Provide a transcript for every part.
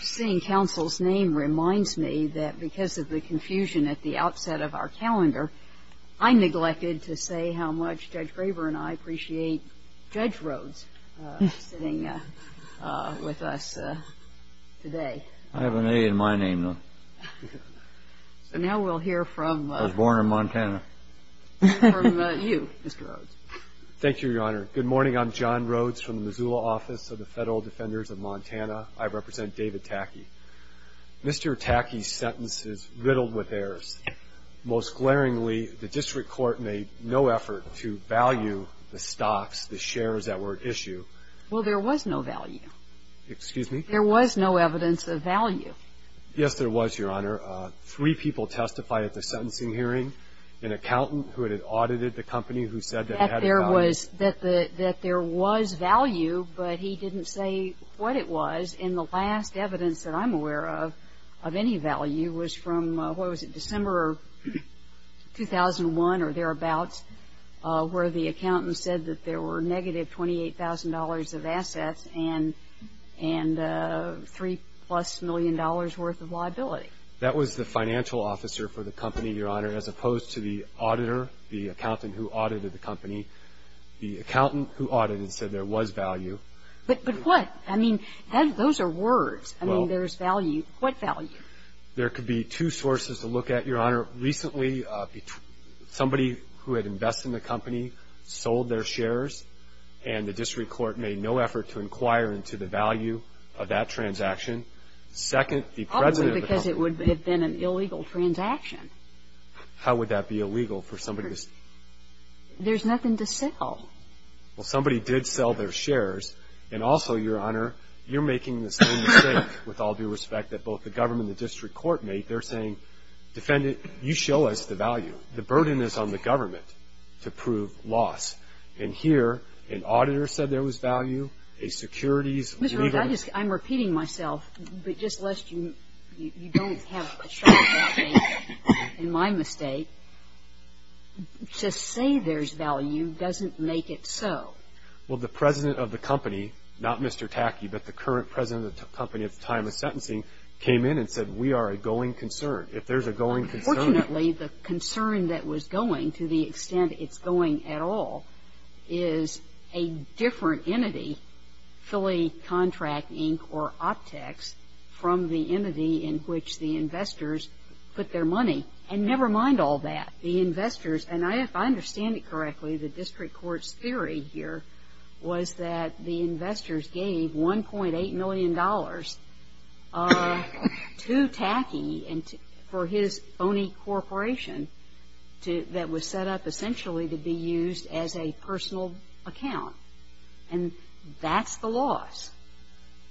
Seeing counsel's name reminds me that because of the confusion at the outset of our calendar, I neglected to say how much Judge Graber and I appreciate Judge Rhodes sitting with us today. I have an A in my name, though. So now we'll hear from— I was born in Montana. —from you, Mr. Rhodes. Thank you, Your Honor. Good morning. I'm John Rhodes from the Missoula office of the Federal Defenders of Montana. I represent David Tacke. Mr. Tacke's sentence is riddled with errors. Most glaringly, the district court made no effort to value the stocks, the shares that were at issue. Well, there was no value. Excuse me? There was no evidence of value. Yes, there was, Your Honor. Three people testified at the sentencing hearing. An accountant who had audited the company who said that it had value. That there was value, but he didn't say what it was. And the last evidence that I'm aware of of any value was from, what was it, December of 2001 or thereabouts, where the accountant said that there were negative $28,000 of assets and $3-plus million worth of liability. That was the financial officer for the company, Your Honor, as opposed to the auditor, the accountant who audited the company. The accountant who audited said there was value. But what? I mean, those are words. I mean, there's value. What value? There could be two sources to look at, Your Honor. Recently, somebody who had invested in the company sold their shares, and the district court made no effort to inquire into the value of that transaction. Probably because it would have been an illegal transaction. How would that be illegal for somebody to sell? There's nothing to sell. Well, somebody did sell their shares. And also, Your Honor, you're making the same mistake, with all due respect, that both the government and the district court made. They're saying, Defendant, you show us the value. The burden is on the government to prove loss. And here, an auditor said there was value, a securities legalist. I'm repeating myself, but just lest you don't have a shot at me in my mistake. To say there's value doesn't make it so. Well, the president of the company, not Mr. Tacky, but the current president of the company at the time of sentencing, came in and said we are a going concern. If there's a going concern. Fortunately, the concern that was going, to the extent it's going at all, is a different entity, Philly Contract Inc. or Optex, from the entity in which the investors put their money. And never mind all that. The investors, and if I understand it correctly, the district court's theory here was that the investors gave $1.8 million to Tacky for his phony corporation that was set up essentially to be used as a personal account. And that's the loss.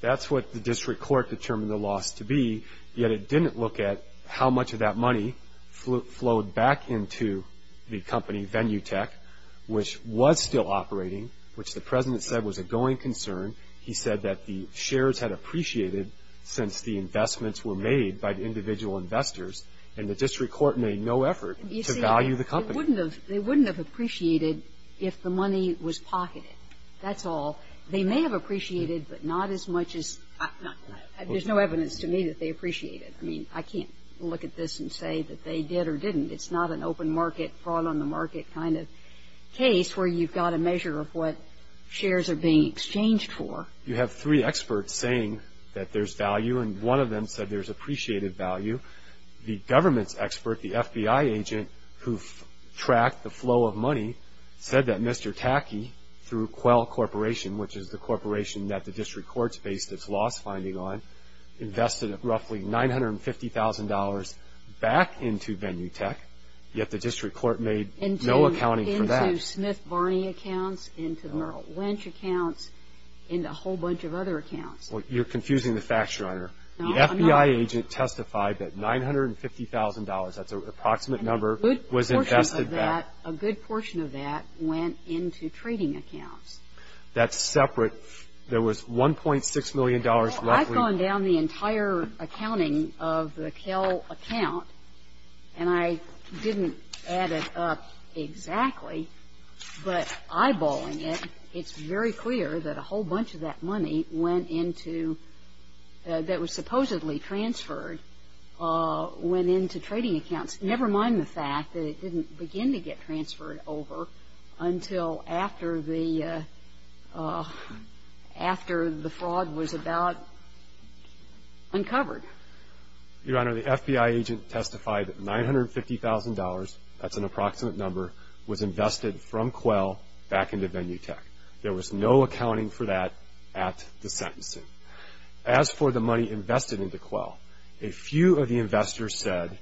That's what the district court determined the loss to be, yet it didn't look at how much of that money flowed back into the company, Venutech, which was still operating, which the president said was a going concern. He said that the shares had appreciated since the investments were made by the individual investors, and the district court made no effort to value the company. You see, it wouldn't have appreciated if the money was pocketed. That's all. They may have appreciated, but not as much as not. There's no evidence to me that they appreciated. I mean, I can't look at this and say that they did or didn't. It's not an open market, fraud on the market kind of case where you've got a measure of what shares are being exchanged for. You have three experts saying that there's value, and one of them said there's appreciated value. The government's expert, the FBI agent who tracked the flow of money, said that Mr. Tacky, through Quell Corporation, which is the corporation that the district court's based its loss finding on, invested roughly $950,000 back into Venutech, yet the district court made no accounting for that. Into Smith Barney accounts, into Merrill Lynch accounts, into a whole bunch of other accounts. You're confusing the facts, Your Honor. The FBI agent testified that $950,000, that's an approximate number, was invested back. A good portion of that went into trading accounts. That's separate. There was $1.6 million roughly. I've gone down the entire accounting of the Kell account, and I didn't add it up exactly, but eyeballing it, it's very clear that a whole bunch of that money went into that was supposedly transferred went into trading accounts, never mind the fact that it didn't begin to get transferred over until after the fraud was about uncovered. Your Honor, the FBI agent testified that $950,000, that's an approximate number, was invested from Quell back into Venutech. There was no accounting for that at the sentencing. As for the money invested into Quell, a few of the investors said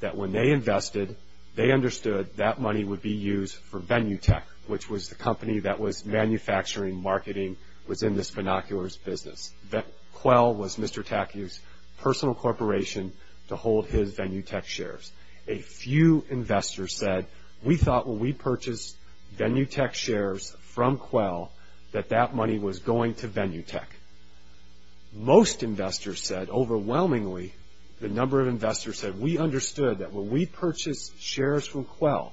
that when they invested, they understood that money would be used for Venutech, which was the company that was manufacturing, marketing, was in this binoculars business. Quell was Mr. Tacky's personal corporation to hold his Venutech shares. A few investors said, we thought when we purchased Venutech shares from Quell, that that money was going to Venutech. Most investors said, overwhelmingly, the number of investors said, we understood that when we purchased shares from Quell,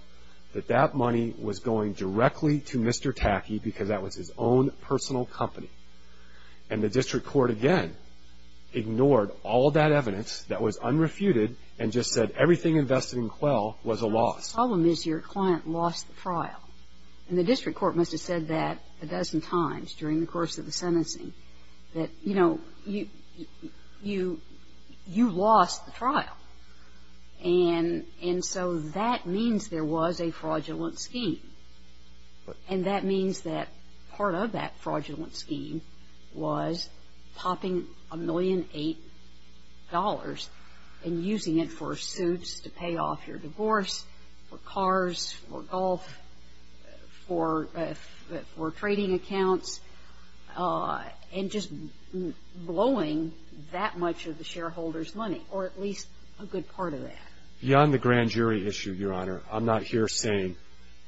that that money was going directly to Mr. Tacky because that was his own personal company. And the district court, again, ignored all that evidence that was unrefuted and just said everything invested in Quell was a loss. The problem is your client lost the trial. And the district court must have said that a dozen times during the course of the sentencing, that, you know, you lost the trial. And so that means there was a fraudulent scheme. And that means that part of that fraudulent scheme was popping $1.8 million and using it for suits to pay off your divorce, for cars, for golf, for trading accounts. And just blowing that much of the shareholder's money, or at least a good part of that. Beyond the grand jury issue, Your Honor, I'm not here saying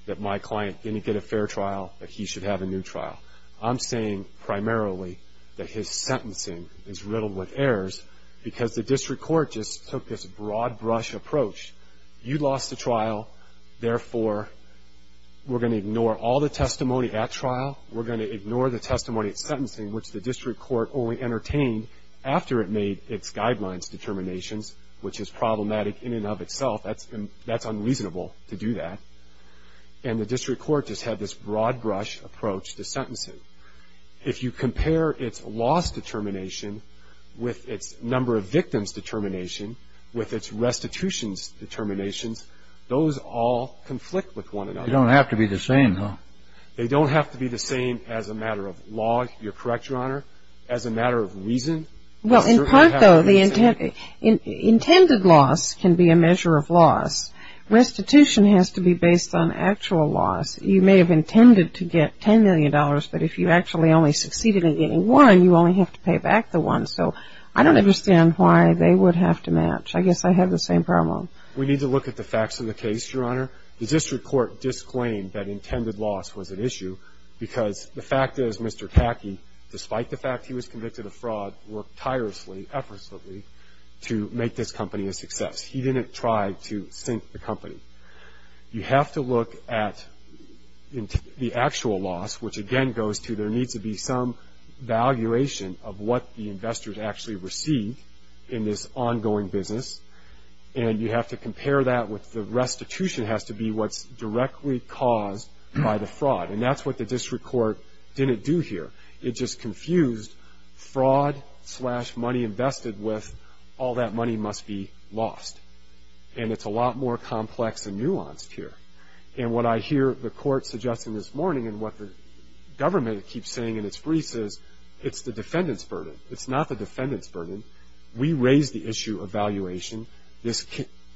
that my client didn't get a fair trial, that he should have a new trial. I'm saying primarily that his sentencing is riddled with errors because the district court just took this broad brush approach. You lost the trial. Therefore, we're going to ignore all the testimony at trial. We're going to ignore the testimony at sentencing, which the district court only entertained after it made its guidelines determinations, which is problematic in and of itself. That's unreasonable to do that. And the district court just had this broad brush approach to sentencing. If you compare its loss determination with its number of victims determination, with its restitutions determinations, those all conflict with one another. They don't have to be the same, huh? They don't have to be the same as a matter of law. You're correct, Your Honor, as a matter of reason. Well, in part, though, the intended loss can be a measure of loss. Restitution has to be based on actual loss. You may have intended to get $10 million, but if you actually only succeeded in getting one, you only have to pay back the one. So I don't understand why they would have to match. I guess I have the same problem. We need to look at the facts of the case, Your Honor. The district court disclaimed that intended loss was an issue because the fact is Mr. Kacke, despite the fact he was convicted of fraud, worked tirelessly, effortlessly, to make this company a success. He didn't try to sink the company. You have to look at the actual loss, which, again, goes to there needs to be some valuation of what the investors actually received in this ongoing business, and you have to compare that with the restitution has to be what's directly caused by the fraud, and that's what the district court didn't do here. It just confused fraud slash money invested with all that money must be lost, and it's a lot more complex and nuanced here. And what I hear the court suggesting this morning and what the government keeps saying in its briefs is it's the defendant's burden. It's not the defendant's burden. We raised the issue of valuation. This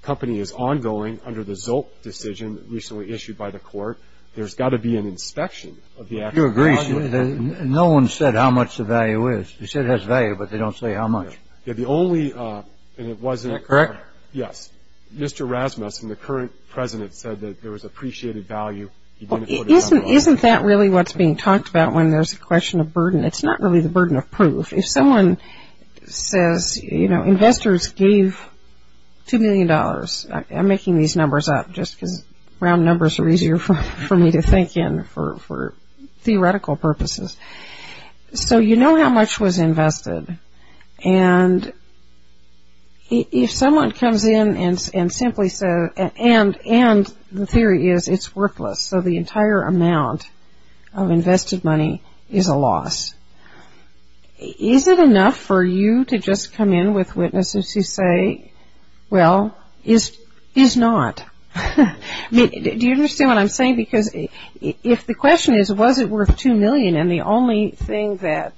company is ongoing under the Zolt decision recently issued by the court. There's got to be an inspection of the actual loss. You agree. No one said how much the value is. They said it has value, but they don't say how much. The only, and it wasn't. Is that correct? Yes. Mr. Rasmussen, the current president, said that there was appreciated value. Isn't that really what's being talked about when there's a question of burden? It's not really the burden of proof. If someone says, you know, investors gave $2 million. I'm making these numbers up just because round numbers are easier for me to think in for theoretical purposes. So you know how much was invested. And if someone comes in and simply says, and the theory is it's worthless, so the entire amount of invested money is a loss. Is it enough for you to just come in with witnesses who say, well, it's not? Do you understand what I'm saying? Because if the question is, was it worth $2 million, and the only thing that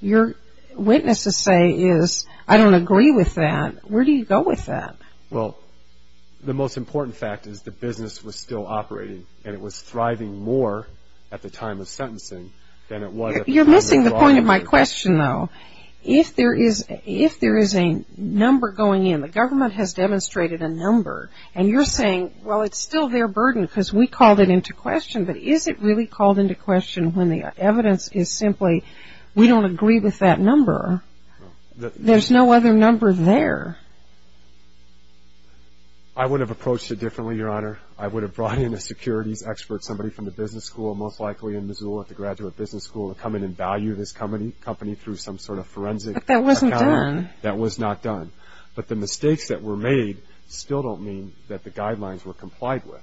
your witnesses say is, I don't agree with that, where do you go with that? Well, the most important fact is the business was still operating, and it was thriving more at the time of sentencing than it was at the time of the law. You're missing the point of my question, though. If there is a number going in, the government has demonstrated a number, and you're saying, well, it's still their burden because we called it into question. But is it really called into question when the evidence is simply, we don't agree with that number? There's no other number there. I would have approached it differently, Your Honor. I would have brought in a securities expert, somebody from the business school, most likely in Missoula at the Graduate Business School, to come in and value this company through some sort of forensic account. But that wasn't done. That was not done. But the mistakes that were made still don't mean that the guidelines were complied with.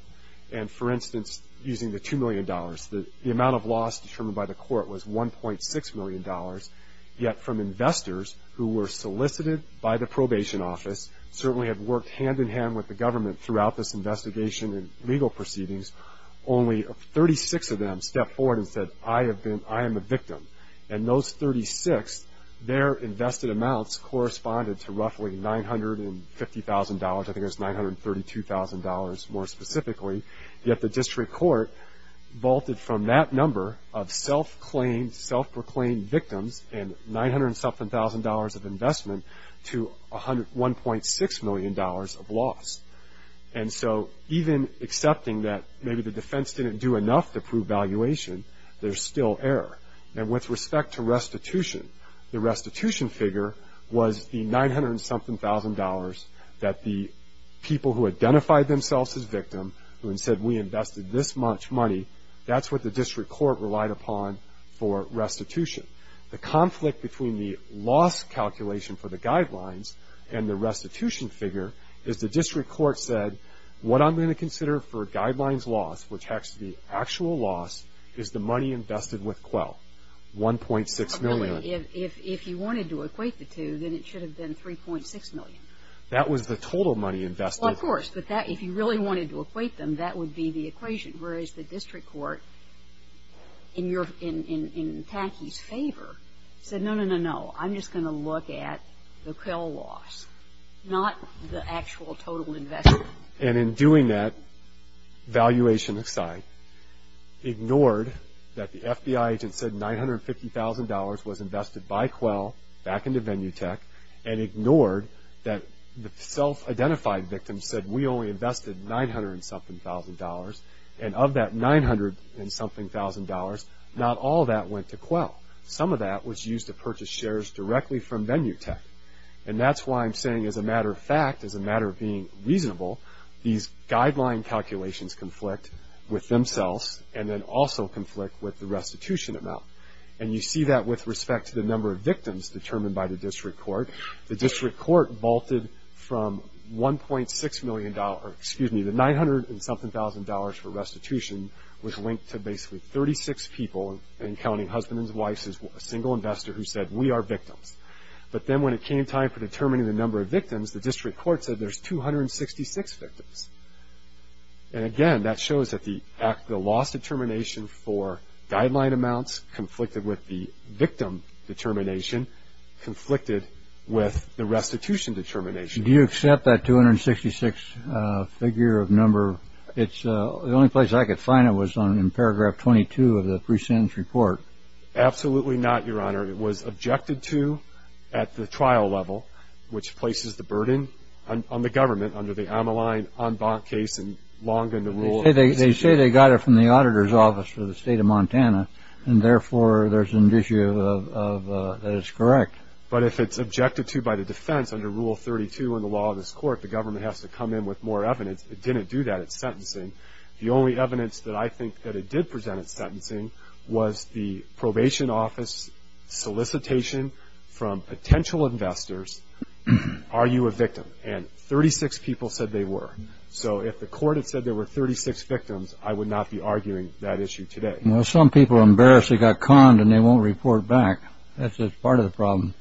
And, for instance, using the $2 million, the amount of loss determined by the court was $1.6 million, yet from investors who were solicited by the probation office, certainly had worked hand-in-hand with the government throughout this investigation and legal proceedings, only 36 of them stepped forward and said, I am a victim. And those 36, their invested amounts corresponded to roughly $950,000. I think it was $932,000 more specifically. Yet the district court vaulted from that number of self-proclaimed victims and $900,000 of investment to $1.6 million of loss. And so even accepting that maybe the defense didn't do enough to prove valuation, there's still error. And with respect to restitution, the restitution figure was the $900,000 that the people who identified themselves as victim, who had said we invested this much money, that's what the district court relied upon for restitution. The conflict between the loss calculation for the guidelines and the restitution figure is the district court said, what I'm going to consider for guidelines loss, which has to be actual loss, is the money invested with QUEL, $1.6 million. If you wanted to equate the two, then it should have been $3.6 million. That was the total money invested. Well, of course. But if you really wanted to equate them, that would be the equation, whereas the district court, in Tacky's favor, said, no, no, no, no. I'm just going to look at the QUEL loss, not the actual total investment. And in doing that, valuation aside, ignored that the FBI agent said $950,000 was invested by QUEL back into Venutech and ignored that the self-identified victim said, we only invested $900-something thousand dollars. And of that $900-something thousand dollars, not all of that went to QUEL. Some of that was used to purchase shares directly from Venutech. And that's why I'm saying, as a matter of fact, as a matter of being reasonable, these guideline calculations conflict with themselves and then also conflict with the restitution amount. And you see that with respect to the number of victims determined by the district court. The district court vaulted from $1.6 million, excuse me, the $900-something thousand dollars for restitution was linked to basically 36 people and counting husbands and wives as a single investor who said, we are victims. But then when it came time for determining the number of victims, the district court said there's 266 victims. And again, that shows that the loss determination for guideline amounts conflicted with the victim determination, conflicted with the restitution determination. Do you accept that 266 figure of number? The only place I could find it was in paragraph 22 of the pre-sentence report. Absolutely not, Your Honor. It was objected to at the trial level, which places the burden on the government under the Amaline en banc case and longer in the rule. They say they got it from the auditor's office for the state of Montana. And therefore, there's an issue that it's correct. But if it's objected to by the defense under Rule 32 in the law of this court, the government has to come in with more evidence. It didn't do that at sentencing. The only evidence that I think that it did present at sentencing was the probation office solicitation from potential investors. Are you a victim? And 36 people said they were. So if the court had said there were 36 victims, I would not be arguing that issue today. Some people embarrassingly got conned and they won't report back. That's part of the problem.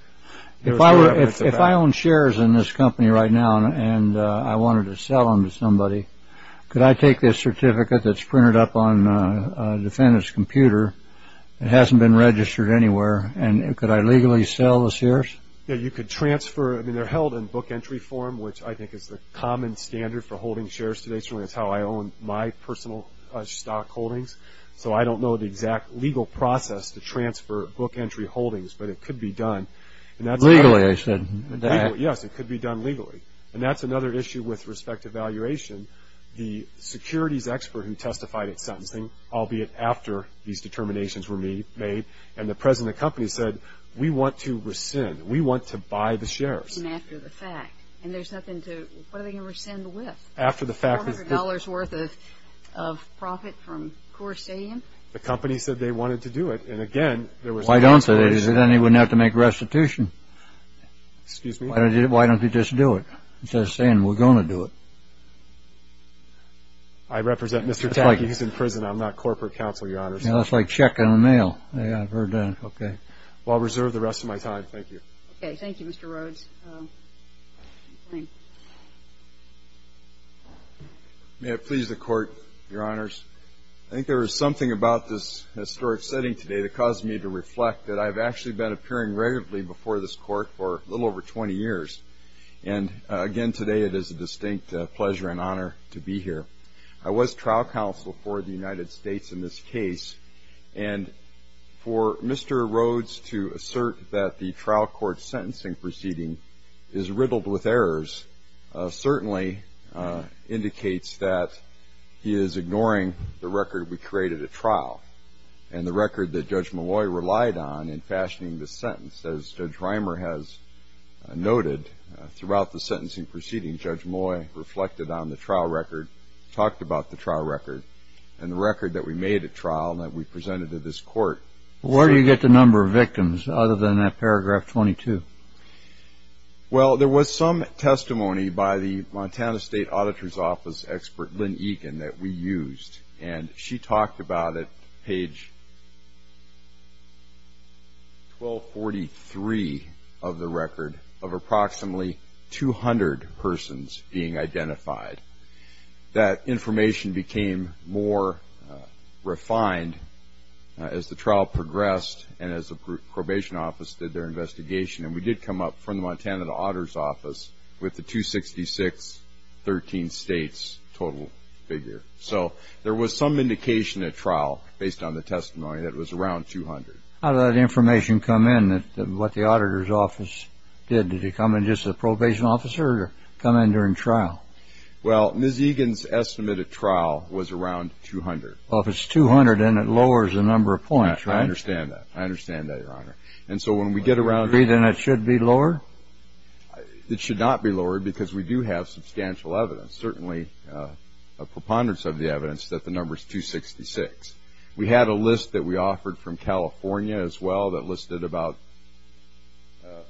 If I own shares in this company right now and I wanted to sell them to somebody, could I take this certificate that's printed up on a defendant's computer that hasn't been registered anywhere, and could I legally sell the shares? Yeah, you could transfer. They're held in book entry form, which I think is the common standard for holding shares today. It's how I own my personal stock holdings. So I don't know the exact legal process to transfer book entry holdings, but it could be done. Legally, I should. Yes, it could be done legally. And that's another issue with respect to valuation. The securities expert who testified at sentencing, albeit after these determinations were made, and the president of the company said, we want to rescind. We want to buy the shares. And after the fact. And there's nothing to, what are they going to rescind with? $400 worth of profit from Corsadian? The company said they wanted to do it. And, again, there was an answer. Why don't they? Then they wouldn't have to make restitution. Excuse me? Why don't they just do it? Instead of saying, we're going to do it. I represent Mr. Tacky. He's in prison. I'm not corporate counsel, Your Honor. It's like checking the mail. Well, I'll reserve the rest of my time. Thank you. Okay, thank you, Mr. Rhodes. May it please the Court, Your Honors. I think there was something about this historic setting today that caused me to reflect that I've actually been appearing regularly before this Court for a little over 20 years. And, again, today it is a distinct pleasure and honor to be here. I was trial counsel for the United States in this case. And for Mr. Rhodes to assert that the trial court sentencing proceeding is riddled with errors, certainly indicates that he is ignoring the record we created at trial and the record that Judge Molloy relied on in fashioning this sentence. As Judge Reimer has noted, throughout the sentencing proceeding, Judge Molloy reflected on the trial record, talked about the trial record, and the record that we made at trial and that we presented to this Court. Where do you get the number of victims other than that paragraph 22? Well, there was some testimony by the Montana State Auditor's Office expert, Lynn Eakin, that we used. And she talked about it, page 1243 of the record, of approximately 200 persons being identified. That information became more refined as the trial progressed and as the probation office did their investigation. And we did come up from the Montana Auditor's Office with the 266, 13 states total figure. So there was some indication at trial, based on the testimony, that it was around 200. How did that information come in, what the auditor's office did? Did it come in just as a probation officer or come in during trial? Well, Ms. Eakin's estimate at trial was around 200. Well, if it's 200, then it lowers the number of points, right? I understand that. I understand that, Your Honor. And so when we get around to- Then it should be lower? It should not be lower because we do have substantial evidence, certainly a preponderance of the evidence, that the number's 266. We had a list that we offered from California as well that listed about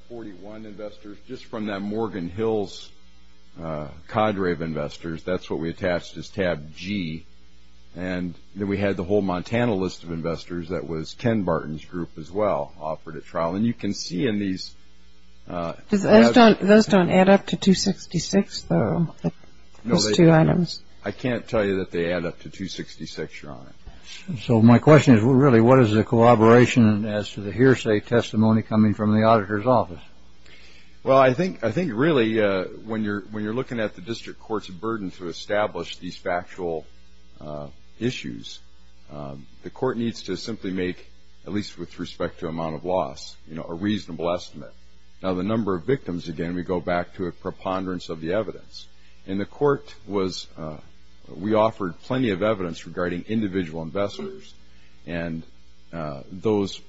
41 investors. Just from that Morgan Hills cadre of investors, that's what we attached as tab G. And then we had the whole Montana list of investors. That was Ken Barton's group as well offered at trial. And you can see in these- Those don't add up to 266, though, those two items? No, they don't. I can't tell you that they add up to 266, Your Honor. So my question is, really, what is the collaboration as to the hearsay testimony coming from the auditor's office? Well, I think, really, when you're looking at the district court's burden to establish these factual issues, the court needs to simply make, at least with respect to amount of loss, a reasonable estimate. Now, the number of victims, again, we go back to a preponderance of the evidence. And the court was- We offered plenty of evidence regarding individual investors. And those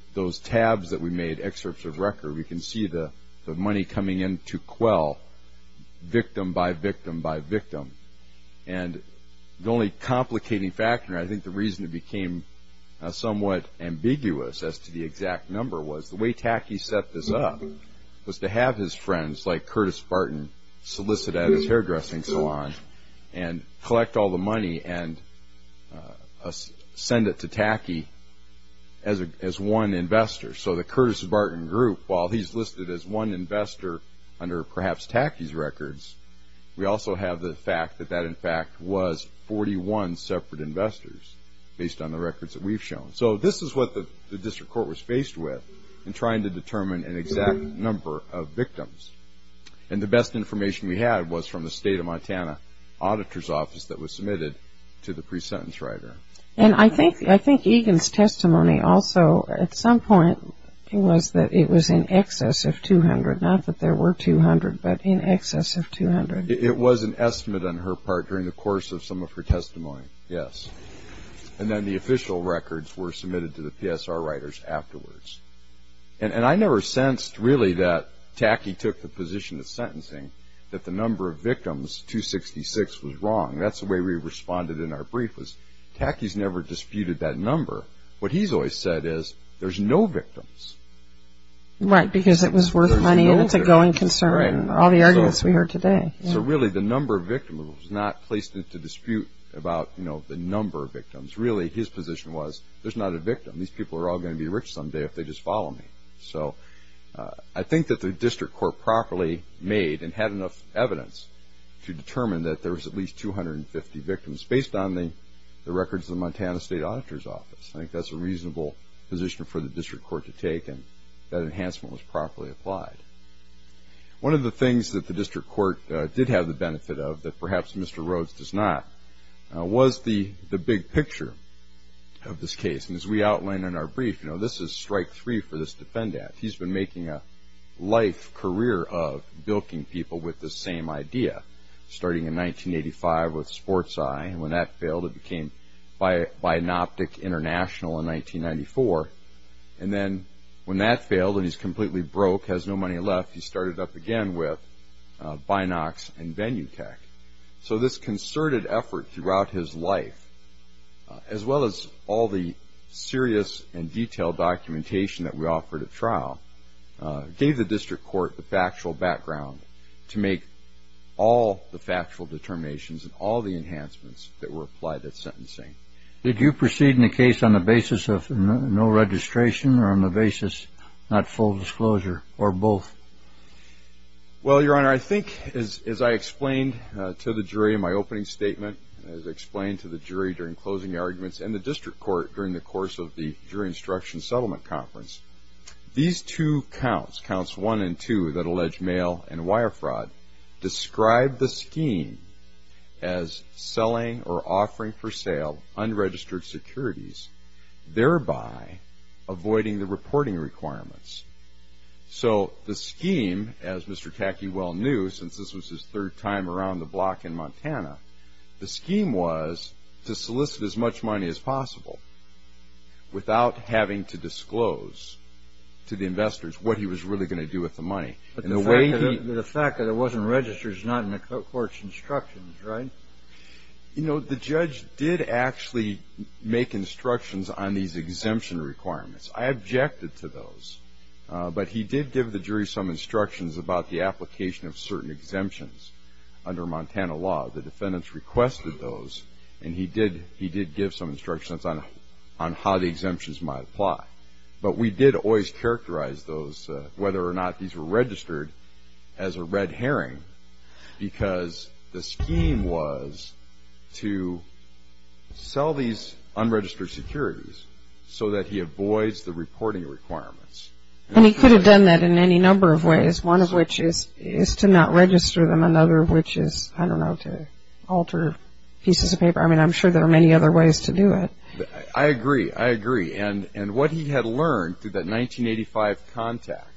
tabs that we made, excerpts of record, we can see the money coming in to quell victim by victim by victim. And the only complicating factor, I think the reason it became somewhat ambiguous as to the exact number was the way Tacky set this up was to have his friends, like Curtis Barton, solicit at his hairdressing salon and collect all the money and send it to Tacky as one investor. So the Curtis Barton group, while he's listed as one investor under perhaps Tacky's records, we also have the fact that that, in fact, was 41 separate investors, based on the records that we've shown. So this is what the district court was faced with in trying to determine an exact number of victims. And the best information we had was from the state of Montana auditor's office that was submitted to the pre-sentence writer. And I think Egan's testimony also, at some point, was that it was in excess of 200, not that there were 200, but in excess of 200. It was an estimate on her part during the course of some of her testimony, yes. And then the official records were submitted to the PSR writers afterwards. And I never sensed, really, that Tacky took the position of sentencing, that the number of victims, 266, was wrong. That's the way we responded in our brief, was Tacky's never disputed that number. What he's always said is, there's no victims. Right, because it was worth money and it's a going concern, all the arguments we heard today. So really, the number of victims was not placed into dispute about the number of victims. Really, his position was, there's not a victim. These people are all going to be rich someday if they just follow me. So I think that the district court properly made and had enough evidence to determine that there was at least 250 victims, based on the records of the Montana State Auditor's Office. I think that's a reasonable position for the district court to take, and that enhancement was properly applied. One of the things that the district court did have the benefit of, that perhaps Mr. Rhodes does not, was the big picture of this case. And as we outlined in our brief, this is strike three for this Defend Act. He's been making a life career of bilking people with this same idea, starting in 1985 with Sports Eye. When that failed, it became Binoptic International in 1994. And then when that failed and he's completely broke, has no money left, he started up again with Binox and Benutech. So this concerted effort throughout his life, as well as all the serious and detailed documentation that we offered at trial, gave the district court the factual background to make all the factual determinations and all the enhancements that were applied at sentencing. Did you proceed in the case on the basis of no registration or on the basis not full disclosure, or both? Well, Your Honor, I think, as I explained to the jury in my opening statement, as I explained to the jury during closing arguments, and the district court during the course of the jury instruction settlement conference, these two counts, counts one and two that allege mail and wire fraud, describe the scheme as selling or offering for sale unregistered securities, thereby avoiding the reporting requirements. So the scheme, as Mr. Tacky well knew, since this was his third time around the block in Montana, the scheme was to solicit as much money as possible without having to disclose to the investors what he was really going to do with the money. But the fact that it wasn't registered is not in the court's instructions, right? You know, the judge did actually make instructions on these exemption requirements. I objected to those. But he did give the jury some instructions about the application of certain exemptions under Montana law. The defendants requested those, and he did give some instructions on how the exemptions might apply. But we did always characterize those, whether or not these were registered, as a red herring, because the scheme was to sell these unregistered securities so that he avoids the reporting requirements. And he could have done that in any number of ways, one of which is to not register them, another of which is, I don't know, to alter pieces of paper. I mean, I'm sure there are many other ways to do it. I agree, I agree. And what he had learned through that 1985 contact,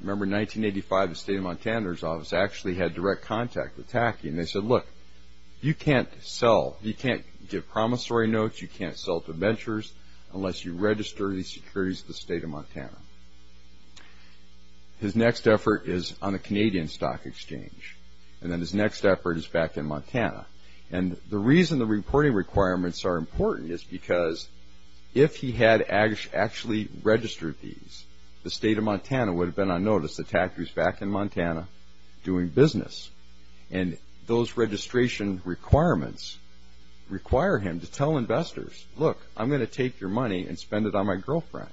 remember 1985 the state of Montana's office actually had direct contact with Tacky, and they said, look, you can't sell, you can't give promissory notes, you can't sell to ventures unless you register these securities to the state of Montana. His next effort is on the Canadian Stock Exchange, and then his next effort is back in Montana. And the reason the reporting requirements are important is because if he had actually registered these, the state of Montana would have been on notice that Tacky was back in Montana doing business. And those registration requirements require him to tell investors, look, I'm going to take your money and spend it on my girlfriend,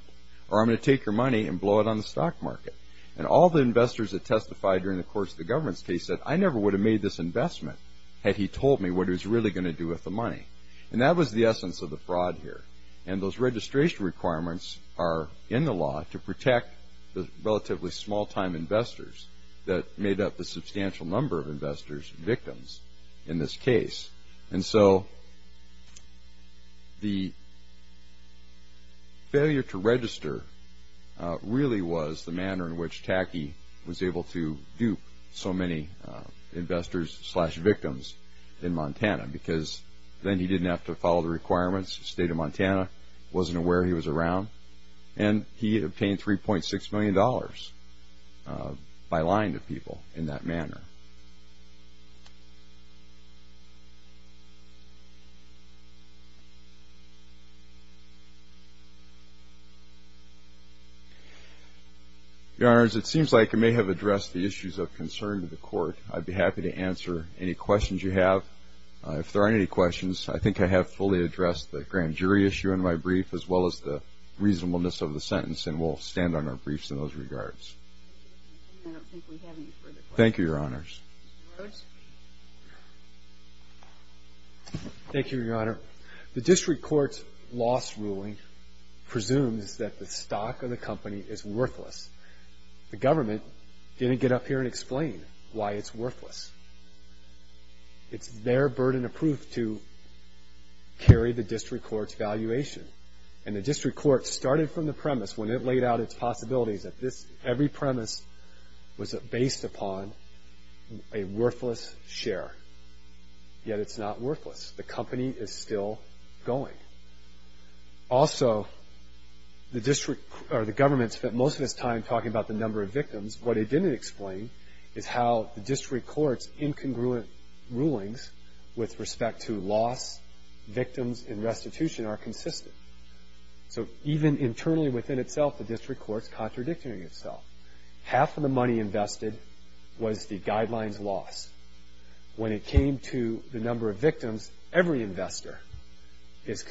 or I'm going to take your money and blow it on the stock market. And all the investors that testified during the course of the government's case said, I never would have made this investment had he told me what he was really going to do with the money. And that was the essence of the fraud here. And those registration requirements are in the law to protect the relatively small-time investors that made up the substantial number of investors victims in this case. And so the failure to register really was the manner in which Tacky was able to dupe so many investors slash victims in Montana, because then he didn't have to follow the requirements. The state of Montana wasn't aware he was around. And he obtained $3.6 million by lying to people in that manner. Your Honors, it seems like I may have addressed the issues of concern to the Court. I'd be happy to answer any questions you have. If there aren't any questions, I think I have fully addressed the grand jury issue in my brief as well as the reasonableness of the sentence, and we'll stand on our briefs in those regards. I don't think we have any further questions. Thank you, Your Honors. Thank you, Your Honor. The district court's loss ruling presumes that the stock of the company is worthless. The government didn't get up here and explain why it's worthless. It's their burden of proof to carry the district court's valuation. And the district court started from the premise when it laid out its possibilities that every premise was based upon a worthless share. Yet it's not worthless. The company is still going. Also, the government spent most of its time talking about the number of victims. What it didn't explain is how the district court's incongruent rulings with respect to loss, victims, and restitution are consistent. So even internally within itself, the district court's contradicting itself. Half of the money invested was the guidelines loss. When it came to the number of victims, every investor is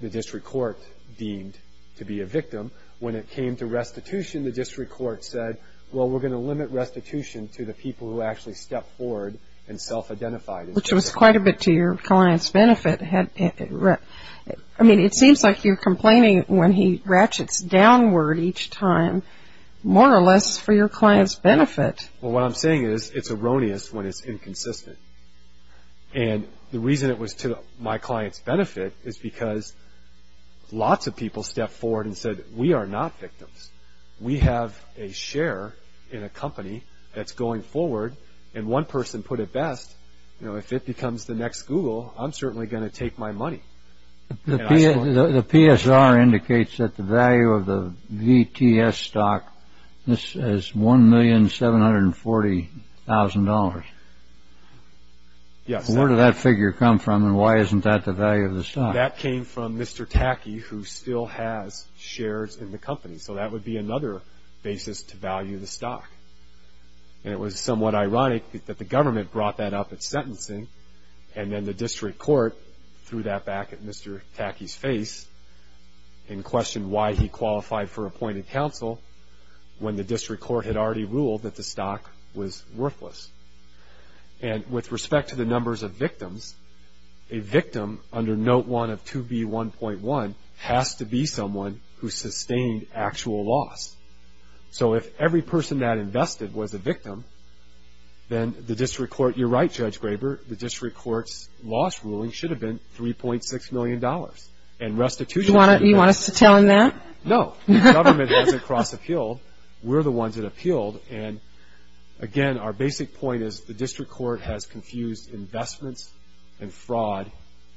the district court deemed to be a victim. When it came to restitution, the district court said, well, we're going to limit restitution to the people who actually step forward and self-identify themselves. Which was quite a bit to your client's benefit. I mean, it seems like you're complaining when he ratchets downward each time, more or less for your client's benefit. Well, what I'm saying is it's erroneous when it's inconsistent. And the reason it was to my client's benefit is because lots of people stepped forward and said, we are not victims. We have a share in a company that's going forward. And one person put it best, you know, if it becomes the next Google, I'm certainly going to take my money. The PSR indicates that the value of the VTS stock is $1,740,000. Yes. Where did that figure come from and why isn't that the value of the stock? That came from Mr. Tacky, who still has shares in the company. So that would be another basis to value the stock. And it was somewhat ironic that the government brought that up at sentencing and then the district court threw that back at Mr. Tacky's face and questioned why he qualified for appointed counsel when the district court had already ruled that the stock was worthless. And with respect to the numbers of victims, a victim under Note 1 of 2B1.1 has to be someone who sustained actual loss. So if every person that invested was a victim, then the district court, you're right, Judge Graber, the district court's loss ruling should have been $3.6 million. Do you want us to tell him that? No. The government hasn't cross-appealed. We're the ones that appealed. And, again, our basic point is the district court has confused investments and fraud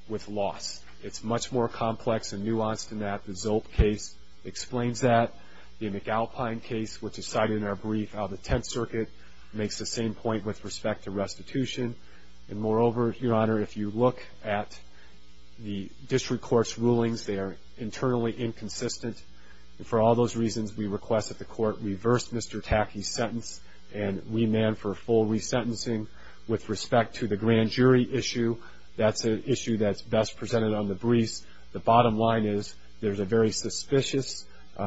with loss. It's much more complex and nuanced than that. The Zolp case explains that. The McAlpine case, which is cited in our brief, how the Tenth Circuit makes the same point with respect to restitution. And, moreover, Your Honor, if you look at the district court's rulings, they are internally inconsistent. And for all those reasons, we request that the court reverse Mr. Tacky's sentence and remand for full resentencing. With respect to the grand jury issue, that's an issue that's best presented on the briefs. The bottom line is there's a very suspicious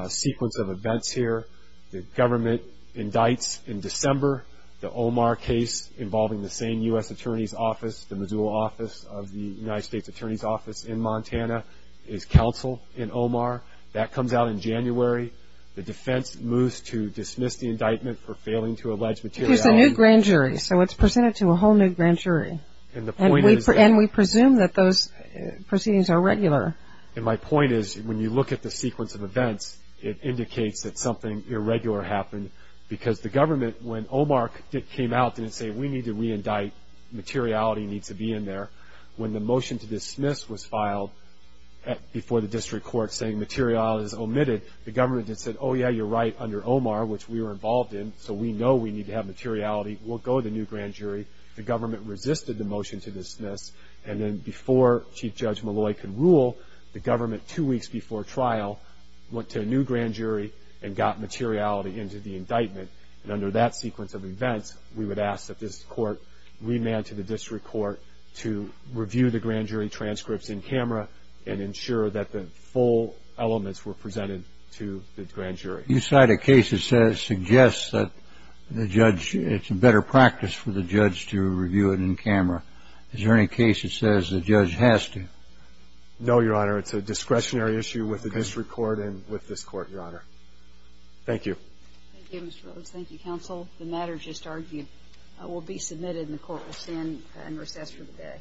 sequence of events here. The government indicts in December. The Omar case involving the same U.S. Attorney's Office, the Missoula office of the United States Attorney's Office in Montana, is counsel in Omar. That comes out in January. The defense moves to dismiss the indictment for failing to allege materiality. It's a new grand jury, so it's presented to a whole new grand jury. And we presume that those proceedings are regular. And my point is when you look at the sequence of events, it indicates that something irregular happened because the government, when Omar came out and said we need to reindict, materiality needs to be in there. When the motion to dismiss was filed before the district court saying materiality is omitted, the government then said, oh, yeah, you're right, under Omar, which we were involved in, so we know we need to have materiality, we'll go to the new grand jury. The government resisted the motion to dismiss. And then before Chief Judge Malloy could rule, the government, two weeks before trial, went to a new grand jury and got materiality into the indictment. And under that sequence of events, we would ask that this court remand to the district court to review the grand jury transcripts in camera and ensure that the full elements were presented to the grand jury. You cite a case that suggests that it's a better practice for the judge to review it in camera. Is there any case that says the judge has to? No, Your Honor. It's a discretionary issue with the district court and with this court, Your Honor. Thank you. Thank you, Mr. Rhodes. Thank you, counsel. The matters just argued will be submitted and the court will stand in recess for the day.